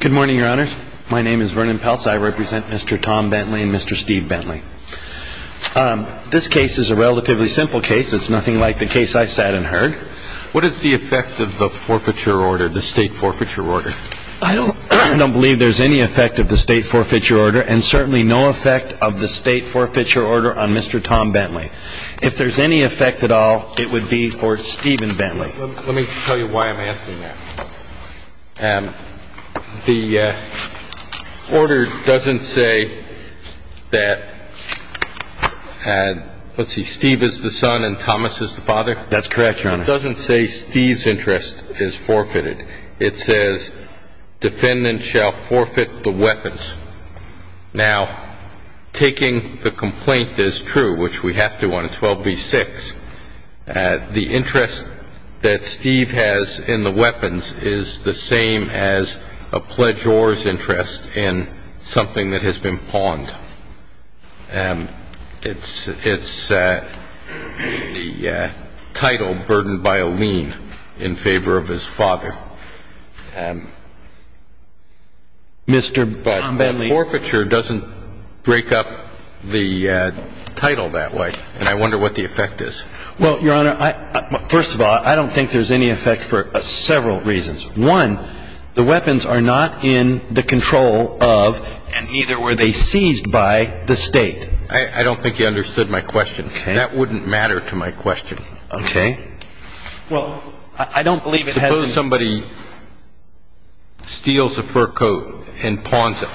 Good morning, Your Honors. My name is Vernon Peltz. I represent Mr. Tom Bentley and Mr. Steve Bentley. This case is a relatively simple case. It's nothing like the case I sat and heard. What is the effect of the forfeiture order, the state forfeiture order? I don't believe there's any effect of the state forfeiture order and certainly no effect of the state forfeiture order on Mr. Tom Bentley. If there's any effect at all, it would be for Steve and Bentley. Let me tell you why I'm asking that. The order doesn't say that, let's see, Steve is the son and Thomas is the father? That's correct, Your Honor. It doesn't say Steve's interest is forfeited. It says defendant shall forfeit the weapons. Now, taking the complaint as true, which we have to on 12b-6, the interest that Steve has in the weapons is the same as a pledgeor's interest in something that has been pawned. It's the title burdened by a lien in favor of his father. Mr. Tom Bentley. But the forfeiture doesn't break up the title that way, and I wonder what the effect is. Well, Your Honor, first of all, I don't think there's any effect for several reasons. One, the weapons are not in the control of and either were they seized by the state. I don't think you understood my question. Okay. That wouldn't matter to my question. Okay. Well, I don't believe it has any effect. If somebody steals a fur coat and pawns it,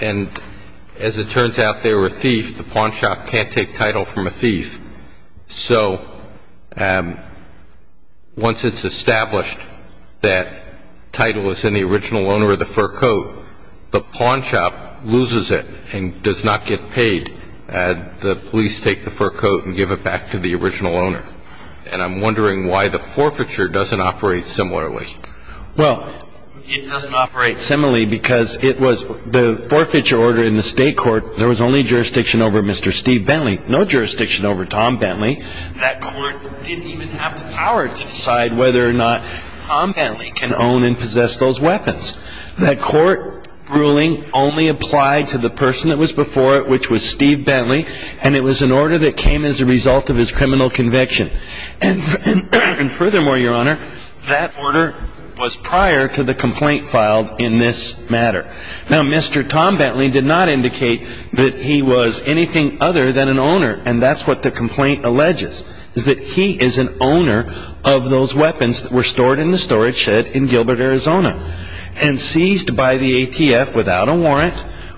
and as it turns out, they were a thief, the pawn shop can't take title from a thief. So once it's established that title is in the original owner of the fur coat, the pawn shop loses it and does not get paid. The police take the fur coat and give it back to the original owner. And I'm wondering why the forfeiture doesn't operate similarly. Well, it doesn't operate similarly because it was the forfeiture order in the state court. There was only jurisdiction over Mr. Steve Bentley, no jurisdiction over Tom Bentley. That court didn't even have the power to decide whether or not Tom Bentley can own and possess those weapons. That court ruling only applied to the person that was before it, which was Steve Bentley, and it was an order that came as a result of his criminal conviction. And furthermore, Your Honor, that order was prior to the complaint filed in this matter. Now, Mr. Tom Bentley did not indicate that he was anything other than an owner, and that's what the complaint alleges, is that he is an owner of those weapons that were stored in the storage shed in Gilbert, Arizona, and seized by the ATF without a warrant,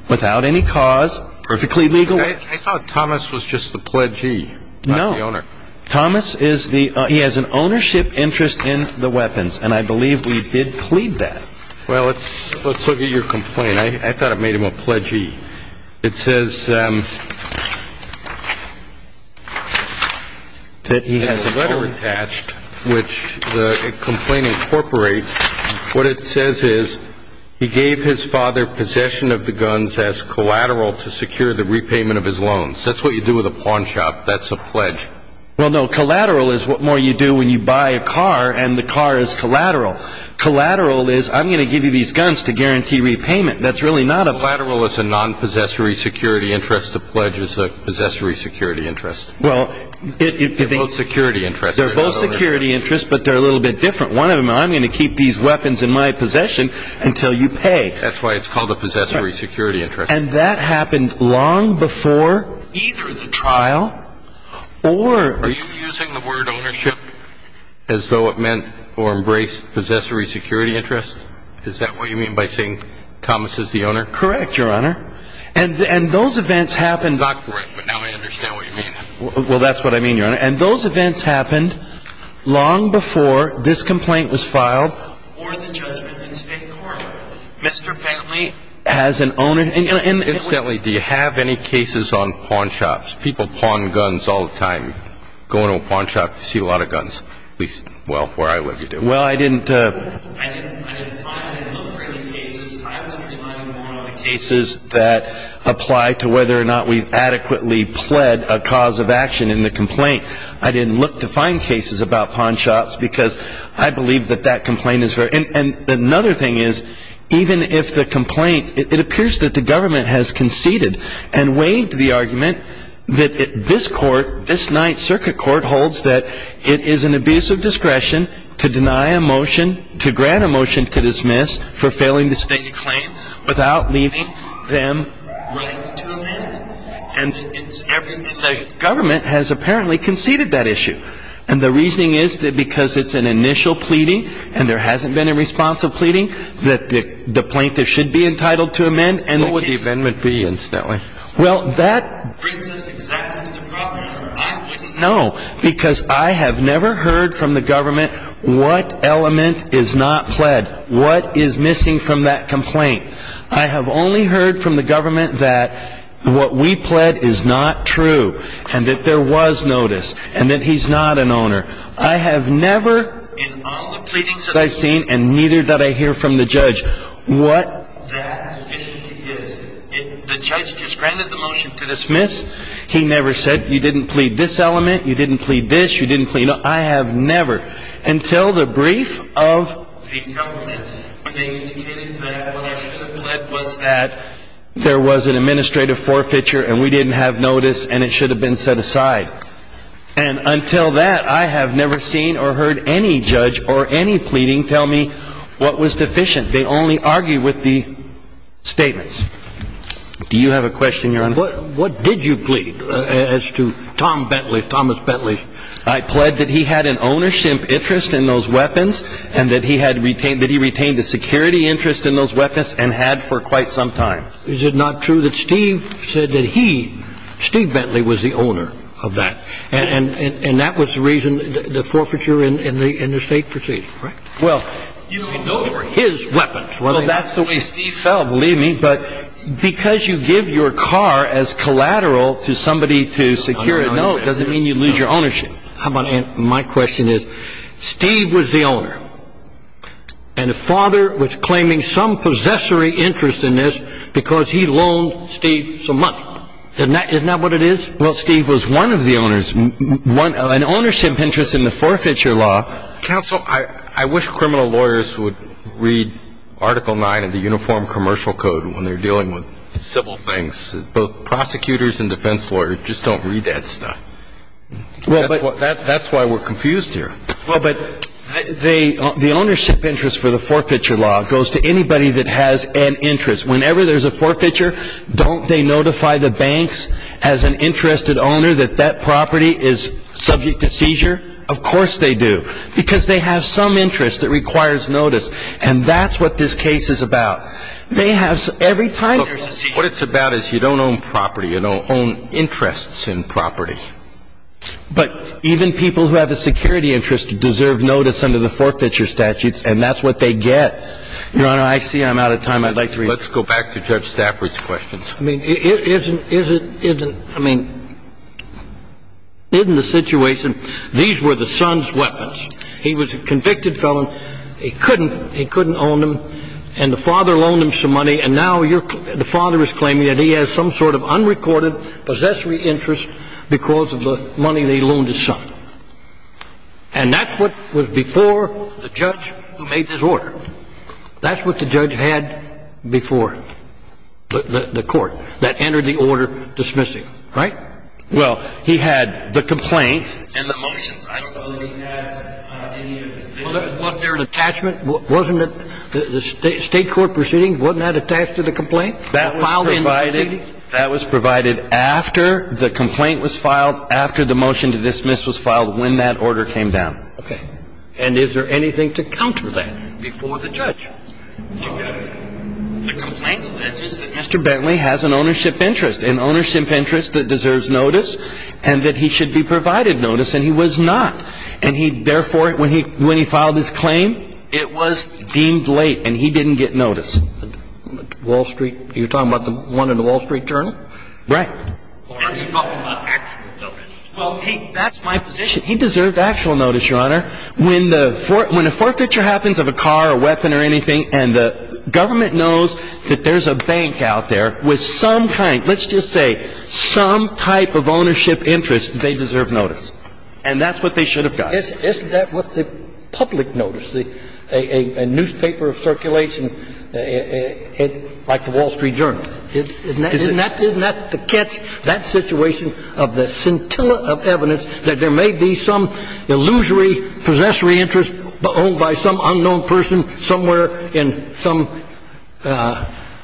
without any cause, perfectly legal. I thought Thomas was just the pledgee, not the owner. No. Thomas is the – he has an ownership interest in the weapons, and I believe we did plead that. Well, let's look at your complaint. I thought it made him a pledgee. It says that he has a letter attached, which the complaint incorporates. What it says is, he gave his father possession of the guns as collateral to secure the repayment of his loans. That's what you do with a pawn shop. That's a pledge. Well, no, collateral is what more you do when you buy a car, and the car is collateral. Collateral is, I'm going to give you these guns to guarantee repayment. That's really not a – Collateral is a non-possessory security interest. The pledge is a possessory security interest. Well, it – They're both security interests. They're both security interests, but they're a little bit different. One of them, I'm going to keep these weapons in my possession until you pay. That's why it's called a possessory security interest. And that happened long before either the trial or – Are you using the word ownership as though it meant or embraced possessory security interest? Is that what you mean by saying Thomas is the owner? Correct, Your Honor. And those events happened – It's not correct, but now I understand what you mean. Well, that's what I mean, Your Honor. And those events happened long before this complaint was filed or the judgment in the State court. Mr. Bentley has an ownership – Incidentally, do you have any cases on pawn shops? People pawn guns all the time. You go into a pawn shop, you see a lot of guns. At least, well, where I live, you do. Well, I didn't – I didn't find any. I was relying more on the cases that apply to whether or not we've adequately pled a cause of action in the complaint. I didn't look to find cases about pawn shops because I believe that that complaint is – And another thing is, even if the complaint – It appears that the government has conceded and waived the argument that this court, this Ninth Circuit Court, holds that it is an abuse of discretion to deny a motion – to grant a motion to dismiss for failing to state a claim without leaving them willing to amend it. And the government has apparently conceded that issue. And the reasoning is that because it's an initial pleading and there hasn't been a response of pleading, that the plaintiff should be entitled to amend. What would the amendment be, incidentally? Well, that brings us exactly to the problem. I wouldn't know. Because I have never heard from the government what element is not pled. What is missing from that complaint? I have only heard from the government that what we pled is not true. And that there was notice. And that he's not an owner. I have never, in all the pleadings that I've seen, and neither did I hear from the judge, what that deficiency is. The judge just granted the motion to dismiss. He never said, you didn't plead this element, you didn't plead this, you didn't plead – I have never. Until the brief of the government, when they indicated that what I should have pled was that there was an administrative forfeiture and we didn't have notice and it should have been set aside. And until that, I have never seen or heard any judge or any pleading tell me what was deficient. They only argue with the statements. Do you have a question, Your Honor? What did you plead as to Tom Bentley, Thomas Bentley? I pled that he had an ownership interest in those weapons and that he retained a security interest in those weapons and had for quite some time. Is it not true that Steve said that he, Steve Bentley, was the owner of that? And that was the reason the forfeiture in the estate proceeded, right? Well, those were his weapons. Well, that's the way Steve fell, believe me. But because you give your car as collateral to somebody to secure it, no, it doesn't mean you lose your ownership. My question is, Steve was the owner. And the father was claiming some possessory interest in this because he loaned Steve some money. Isn't that what it is? Well, Steve was one of the owners, an ownership interest in the forfeiture law. Counsel, I wish criminal lawyers would read Article 9 of the Uniform Commercial Code when they're dealing with civil things. Both prosecutors and defense lawyers just don't read that stuff. That's why we're confused here. Well, but the ownership interest for the forfeiture law goes to anybody that has an interest. Whenever there's a forfeiture, don't they notify the banks as an interested owner that that property is subject to seizure? Of course they do, because they have some interest that requires notice. And that's what this case is about. They have every time there's a seizure. What it's about is you don't own property. You don't own interests in property. But even people who have a security interest deserve notice under the forfeiture statutes, and that's what they get. Your Honor, I see I'm out of time. I'd like to read. Let's go back to Judge Stafford's questions. I mean, isn't the situation, these were the son's weapons. He was a convicted felon. He couldn't own them. And the father loaned him some money. And now the father is claiming that he has some sort of unrecorded possessory interest because of the money they loaned his son. And that's what was before the judge who made this order. That's what the judge had before the court that entered the order dismissing, right? Well, he had the complaint. And the motions. I don't know that he had any of those. Wasn't there an attachment? Wasn't the State court proceeding, wasn't that attached to the complaint? Filed in the proceeding? That was provided after the complaint was filed, after the motion to dismiss was filed, when that order came down. Okay. And is there anything to counter that before the judge? The complaint is that Mr. Bentley has an ownership interest. An ownership interest that deserves notice and that he should be provided notice. And he was not. And he, therefore, when he filed his claim, it was deemed late and he didn't get notice. Wall Street, you're talking about the one in the Wall Street Journal? Right. And you're talking about actual notice. Well, that's my position. He deserved actual notice, Your Honor. When the forfeiture happens of a car or weapon or anything and the government knows that there's a bank out there with some kind, let's just say some type of ownership interest, they deserve notice. And that's what they should have gotten. Isn't that what the public notice, a newspaper of circulation like the Wall Street Journal? Isn't that the catch, that situation of the scintilla of evidence that there may be some illusory possessory interest owned by some unknown person somewhere in some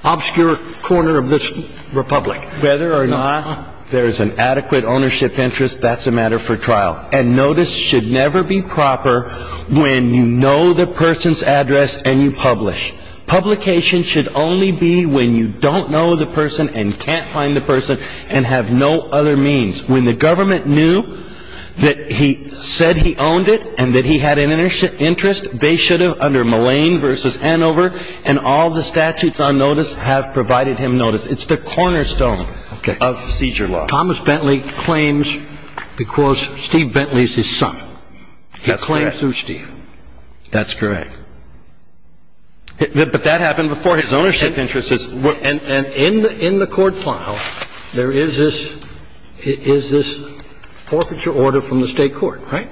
obscure corner of this republic? Whether or not there is an adequate ownership interest, that's a matter for trial. And notice should never be proper when you know the person's address and you publish. Publication should only be when you don't know the person and can't find the person and have no other means. When the government knew that he said he owned it and that he had an interest, they should have, under Mullane v. Anover, and all the statutes on notice have provided him notice. It's the cornerstone of seizure law. Thomas Bentley claims because Steve Bentley is his son. He claims through Steve. That's correct. But that happened before his ownership interests. And in the court file, there is this forfeiture order from the state court, right?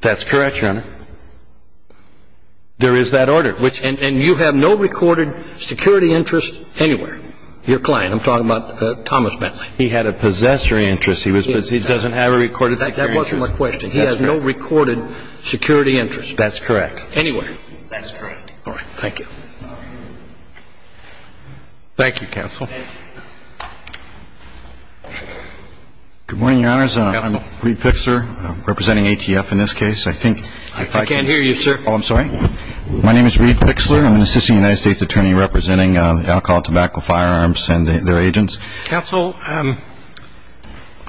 That's correct, Your Honor. There is that order. And you have no recorded security interest anywhere? Your client. I'm talking about Thomas Bentley. He had a possessory interest. He doesn't have a recorded security interest. That wasn't my question. He has no recorded security interest. That's correct. Anywhere. That's correct. All right. Thank you. Thank you, Counsel. Good morning, Your Honors. I'm Reid Pixler, representing ATF in this case. I think if I can't hear you, sir. Oh, I'm sorry. My name is Reid Pixler. I'm an assistant United States attorney representing the Alcohol and Tobacco Firearms and their agents. Counsel,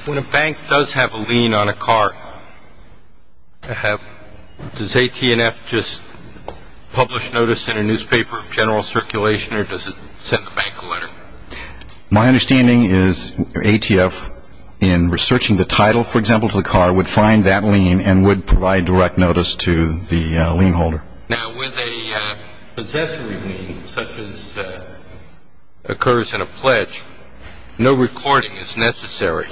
when a bank does have a lien on a car, does ATF just publish notice in a newspaper of general circulation or does it send the bank a letter? My understanding is ATF, in researching the title, for example, of the car, would find that lien and would provide direct notice to the lien holder. Now, with a possessory lien, such as occurs in a pledge, no recording is necessary.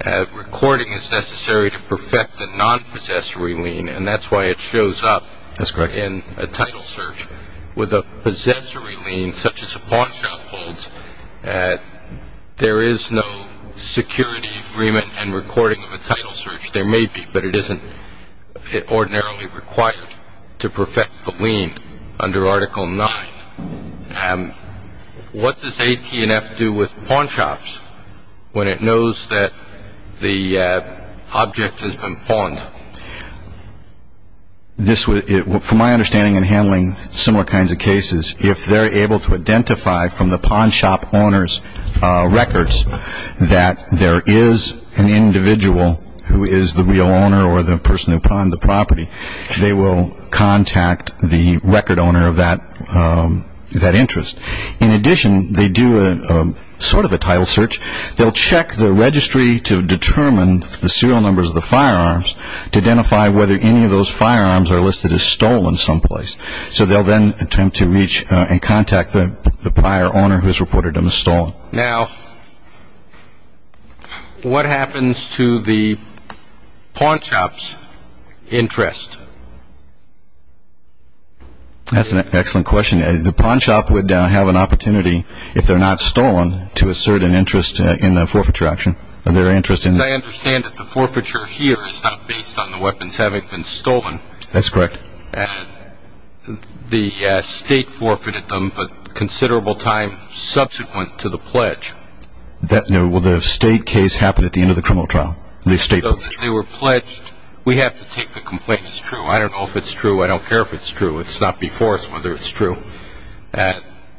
A recording is necessary to perfect a non-possessory lien, and that's why it shows up in a title search. That's correct. With a possessory lien, such as a pawn shop holds, there is no security agreement and recording of a title search. There may be, but it isn't ordinarily required to perfect the lien under Article 9. What does ATF do with pawn shops when it knows that the object has been pawned? From my understanding in handling similar kinds of cases, if they're able to identify from the pawn shop owner's records that there is an individual who is the real owner or the person who pawned the property, they will contact the record owner of that interest. In addition, they do sort of a title search. They'll check the registry to determine the serial numbers of the firearms to identify whether any of those firearms are listed as stolen someplace. So they'll then attempt to reach and contact the prior owner who has reported them as stolen. Now, what happens to the pawn shop's interest? That's an excellent question. The pawn shop would have an opportunity, if they're not stolen, to assert an interest in the forfeiture action. I understand that the forfeiture here is not based on the weapons having been stolen. That's correct. The state forfeited them a considerable time subsequent to the pledge. Will the state case happen at the end of the criminal trial? They were pledged. We have to take the complaint as true. I don't know if it's true. I don't care if it's true. It's not before us whether it's true.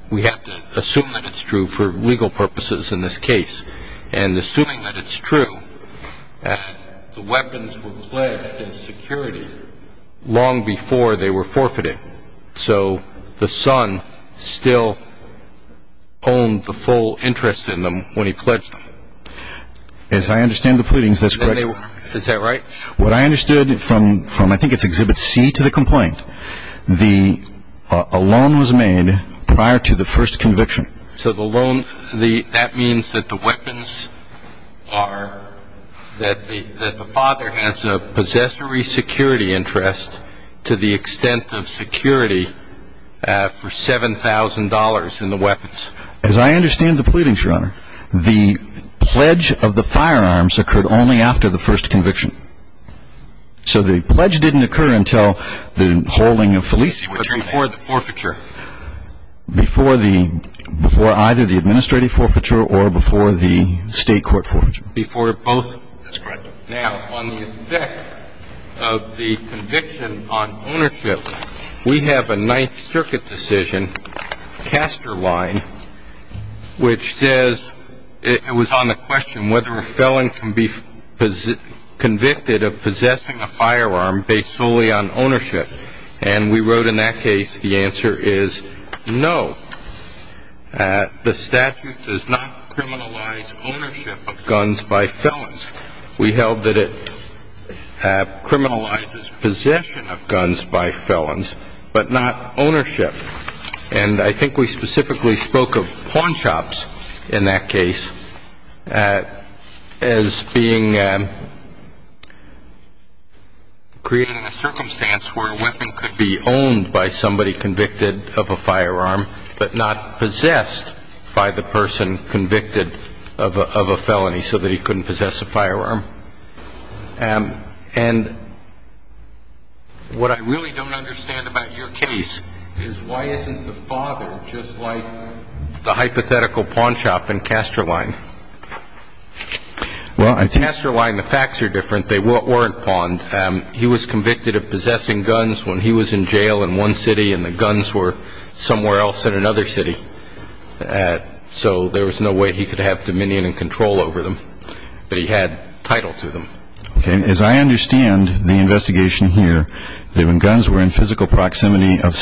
We have to assume that it's true for legal purposes in this case. And assuming that it's true, the weapons were pledged as security long before they were forfeited. So the son still owned the full interest in them when he pledged them. As I understand the pleadings, that's correct. Is that right? What I understood from I think it's Exhibit C to the complaint, a loan was made prior to the first conviction. So that means that the father has a possessory security interest to the extent of security for $7,000 in the weapons. As I understand the pleadings, Your Honor, the pledge of the firearms occurred only after the first conviction. So the pledge didn't occur until the holding of Felici. Before the forfeiture. Before either the administrative forfeiture or before the state court forfeiture. Before both. That's correct. Now, on the effect of the conviction on ownership, we have a Ninth Circuit decision, Castor Line, which says it was on the question whether a felon can be convicted of possessing a firearm based solely on ownership. And we wrote in that case, the answer is no. The statute does not criminalize ownership of guns by felons. We held that it criminalizes possession of guns by felons, but not ownership. And I think we specifically spoke of pawn shops in that case as being created in a circumstance where a weapon could be owned by somebody convicted of a firearm, but not possessed by the person convicted of a felony so that he couldn't possess a firearm. And what I really don't understand about your case is, why isn't the father just like the hypothetical pawn shop in Castor Line? Well, in Castor Line, the facts are different. They weren't pawned. He was convicted of possessing guns when he was in jail in one city and the guns were somewhere else in another city. So there was no way he could have dominion and control over them. But he had title to them. Okay. As I understand the investigation here, the guns were in physical proximity of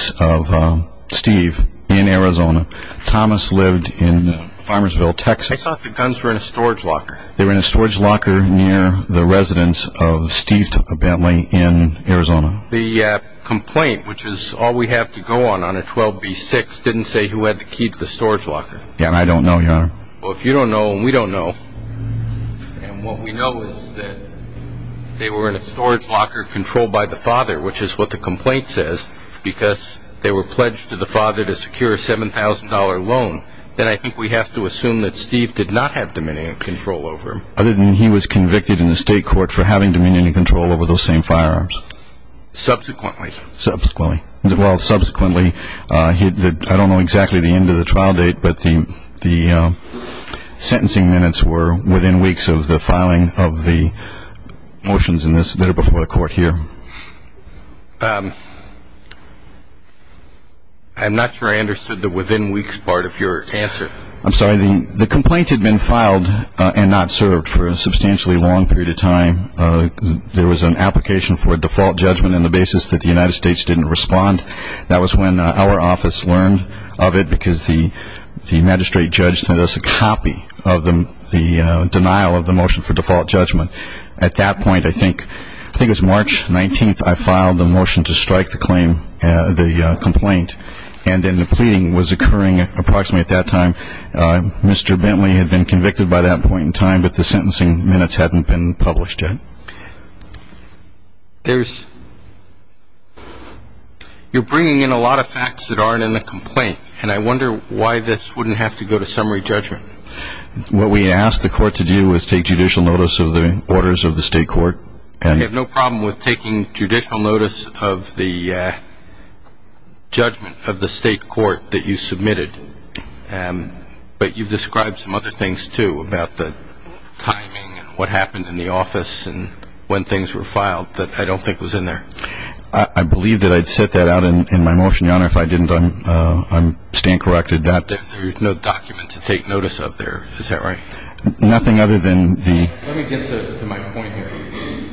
Steve in Arizona. Thomas lived in Farmersville, Texas. I thought the guns were in a storage locker. They were in a storage locker near the residence of Steve Bentley in Arizona. The complaint, which is all we have to go on under 12b-6, didn't say who had to keep the storage locker. Yeah, and I don't know, Your Honor. Well, if you don't know and we don't know, and what we know is that they were in a storage locker controlled by the father, which is what the complaint says, because they were pledged to the father to secure a $7,000 loan, then I think we have to assume that Steve did not have dominion and control over them. Other than he was convicted in the state court for having dominion and control over those same firearms. Subsequently. Subsequently. Well, subsequently, I don't know exactly the end of the trial date, but the sentencing minutes were within weeks of the filing of the motions that are before the court here. I'm not sure I understood the within weeks part of your answer. I'm sorry. The complaint had been filed and not served for a substantially long period of time. There was an application for a default judgment on the basis that the United States didn't respond. That was when our office learned of it, because the magistrate judge sent us a copy of the denial of the motion for default judgment. At that point, I think it was March 19th, I filed the motion to strike the complaint, and then the pleading was occurring approximately at that time. Mr. Bentley had been convicted by that point in time, but the sentencing minutes hadn't been published yet. You're bringing in a lot of facts that aren't in the complaint, and I wonder why this wouldn't have to go to summary judgment. What we asked the court to do was take judicial notice of the orders of the state court. We have no problem with taking judicial notice of the judgment of the state court that you submitted, but you've described some other things, too, about the timing and what happened in the office and when things were filed that I don't think was in there. I believe that I'd set that out in my motion, Your Honor. If I didn't, I'm staying corrected. There's no document to take notice of there, is that right? Nothing other than the- Let me get to my point here.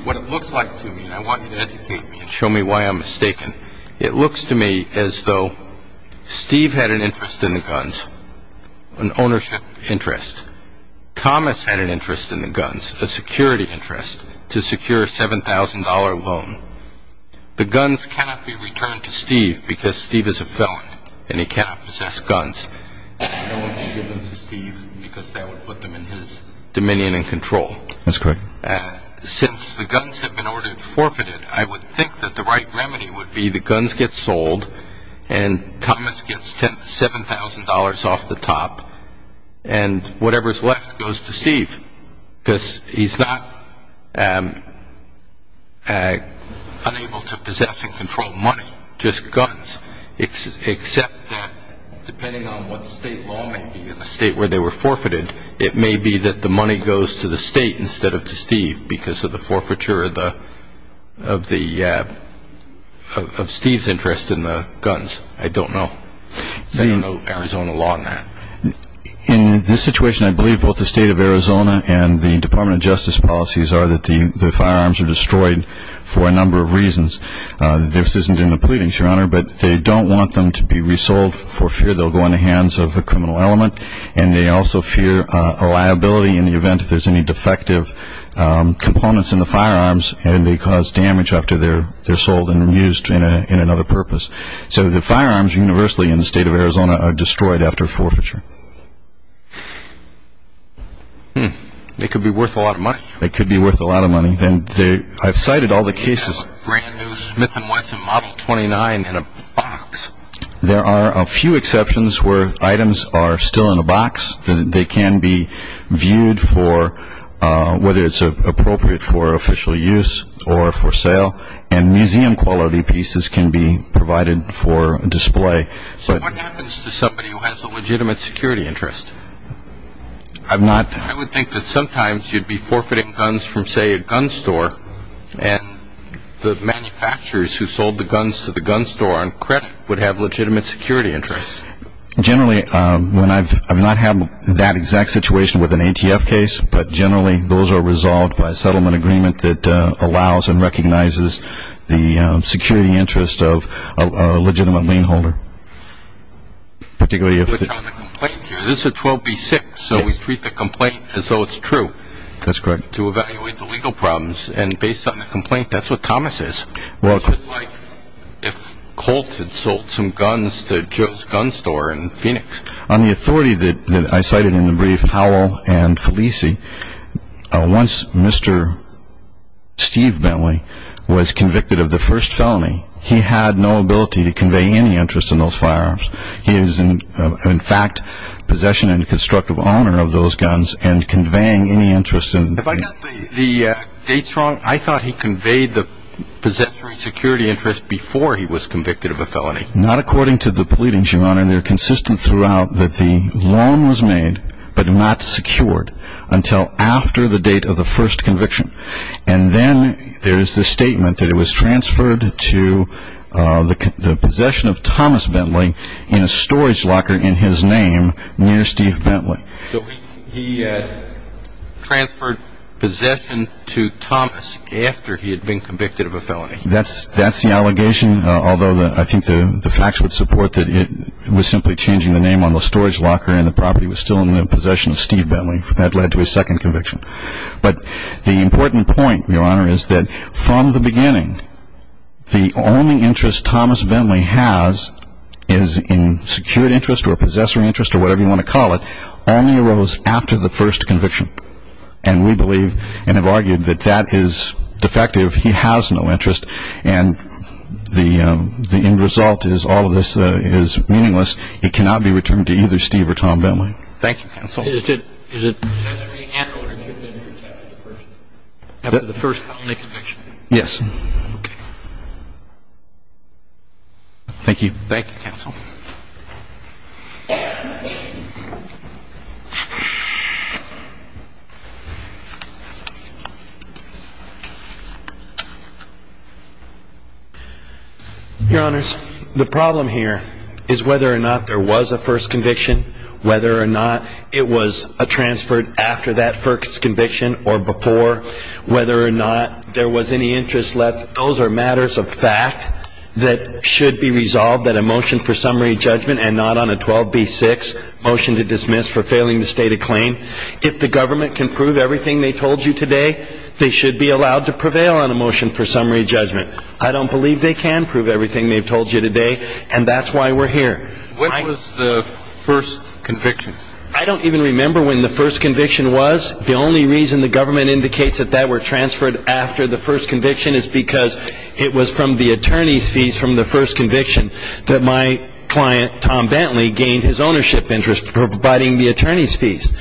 What it looks like to me, and I want you to educate me and show me why I'm mistaken, it looks to me as though Steve had an interest in the guns, an ownership interest. Thomas had an interest in the guns, a security interest, to secure a $7,000 loan. The guns cannot be returned to Steve because Steve is a felon and he cannot possess guns. I want you to give them to Steve because that would put them in his dominion and control. That's correct. Since the guns have been ordered forfeited, I would think that the right remedy would be the guns get sold and Thomas gets $7,000 off the top and whatever's left goes to Steve because he's not unable to possess and control money, just guns, except that depending on what state law may be in the state where they were forfeited, it may be that the money goes to the state instead of to Steve because of the forfeiture of Steve's interest in the guns. I don't know. There's no Arizona law on that. In this situation, I believe both the state of Arizona and the Department of Justice policies are that the firearms are destroyed for a number of reasons. This isn't in the pleadings, Your Honor, but they don't want them to be resold for fear they'll go in the hands of a criminal element and they also fear a liability in the event if there's any defective components in the firearms and they cause damage after they're sold and used in another purpose. So the firearms universally in the state of Arizona are destroyed after forfeiture. It could be worth a lot of money. It could be worth a lot of money. I've cited all the cases. There's no brand-new Smith & Wesson Model 29 in a box. There are a few exceptions where items are still in a box. They can be viewed for whether it's appropriate for official use or for sale, and museum-quality pieces can be provided for display. So what happens to somebody who has a legitimate security interest? I would think that sometimes you'd be forfeiting guns from, say, a gun store and the manufacturers who sold the guns to the gun store on credit would have legitimate security interests. Generally, I've not had that exact situation with an ATF case, but generally those are resolved by a settlement agreement that allows and recognizes the security interest of a legitimate lien holder, particularly if the ---- This is 12b-6, so we treat the complaint as though it's true. That's correct. Based on the complaint, that's what Thomas is. It's just like if Colt had sold some guns to Joe's Gun Store in Phoenix. On the authority that I cited in the brief, Howell and Felici, once Mr. Steve Bentley was convicted of the first felony, he had no ability to convey any interest in those firearms. He was, in fact, possession and constructive owner of those guns and conveying any interest in them. Have I got the dates wrong? I thought he conveyed the possessory security interest before he was convicted of a felony. Not according to the pleadings, Your Honor. They're consistent throughout that the loan was made but not secured until after the date of the first conviction. And then there's the statement that it was transferred to the possession of Thomas Bentley in a storage locker in his name near Steve Bentley. So he transferred possession to Thomas after he had been convicted of a felony. That's the allegation, although I think the facts would support that it was simply changing the name on the storage locker and the property was still in the possession of Steve Bentley. That led to his second conviction. But the important point, Your Honor, is that from the beginning, the only interest Thomas Bentley has is in secured interest or possessory interest or whatever you want to call it, only arose after the first conviction. And we believe and have argued that that is defective. He has no interest. And the end result is all of this is meaningless. It cannot be returned to either Steve or Tom Bentley. Thank you, counsel. Is it possession and or interest after the first felony conviction? Yes. Okay. Thank you. Thank you, counsel. Your Honors, the problem here is whether or not there was a first conviction, whether or not it was transferred after that first conviction or before, whether or not there was any interest left, those are matters of fact that should be resolved at a motion for summary judgment and not on a 12B6 motion to dismiss for failing to state a claim. If the government can prove everything they told you today, they should be allowed to prevail on a motion for summary judgment. I don't believe they can prove everything they've told you today, and that's why we're here. When was the first conviction? I don't even remember when the first conviction was. The only reason the government indicates that that were transferred after the first conviction is because it was from the attorney's fees from the first conviction that my client, Tom Bentley, gained his ownership interest for providing the attorney's fees.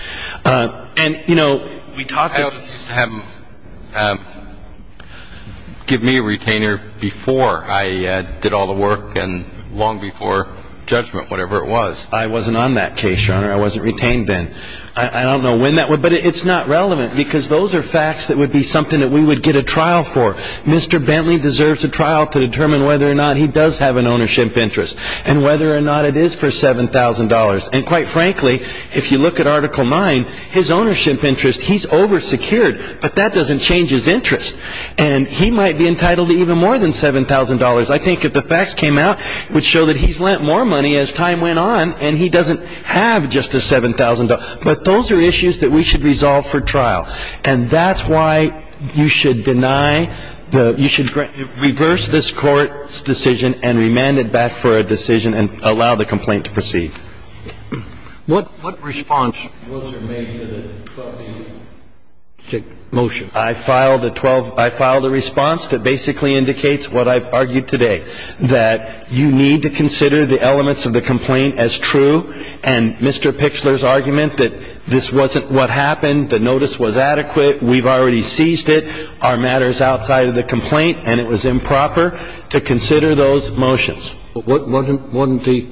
And, you know, we talked about this. Give me a retainer before I did all the work and long before judgment, whatever it was. I wasn't on that case, Your Honor. I wasn't retained then. I don't know when that was, but it's not relevant because those are facts that would be something that we would get a trial for. Mr. Bentley deserves a trial to determine whether or not he does have an ownership interest and whether or not it is for $7,000. And, quite frankly, if you look at Article 9, his ownership interest, he's oversecured, but that doesn't change his interest. And he might be entitled to even more than $7,000. I think if the facts came out, it would show that he's lent more money as time went on and he doesn't have just the $7,000. But those are issues that we should resolve for trial, and that's why you should reverse this Court's decision and remand it back for a decision and allow the complaint to proceed. What response was there made to the 12-page motion? I filed a response that basically indicates what I've argued today, that you need to consider the elements of the complaint as true, and Mr. Pichler's argument that this wasn't what happened, the notice was adequate, we've already seized it, our matter's outside of the complaint, and it was improper to consider those motions. But wasn't the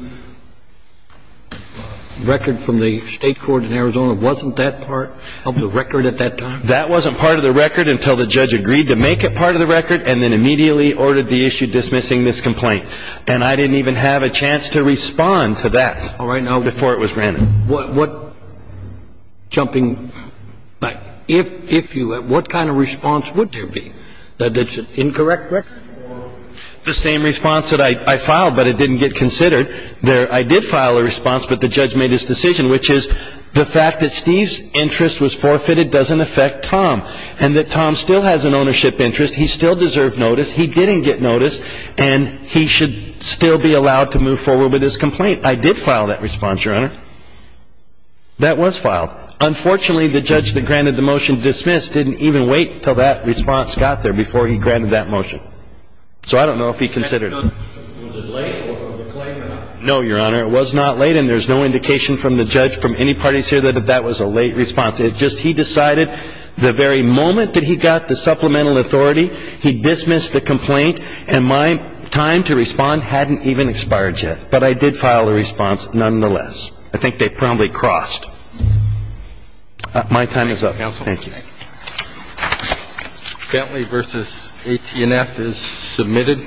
record from the State court in Arizona, wasn't that part of the record at that time? That wasn't part of the record until the judge agreed to make it part of the record and then immediately ordered the issue dismissing this complaint. And I didn't even have a chance to respond to that before it was rendered. All right. Now, what, jumping back, if you had, what kind of response would there be that's incorrect, Rick? The same response that I filed, but it didn't get considered. I did file a response, but the judge made his decision, which is the fact that Steve's interest was forfeited doesn't affect Tom, and that Tom still has an ownership interest, he still deserved notice, he didn't get notice, and he should still be allowed to move forward with his complaint. I did file that response, Your Honor. That was filed. Unfortunately, the judge that granted the motion dismissed didn't even wait until that response got there before he granted that motion. So I don't know if he considered it. Was it late or was it a claim or not? No, Your Honor. It was not late, and there's no indication from the judge, from any parties here, that that was a late response. It's just he decided the very moment that he got the supplemental authority, he dismissed the complaint, and my time to respond hadn't even expired yet. But I did file a response nonetheless. I think they probably crossed. My time is up. Thank you. Bentley v. AT&F is submitted.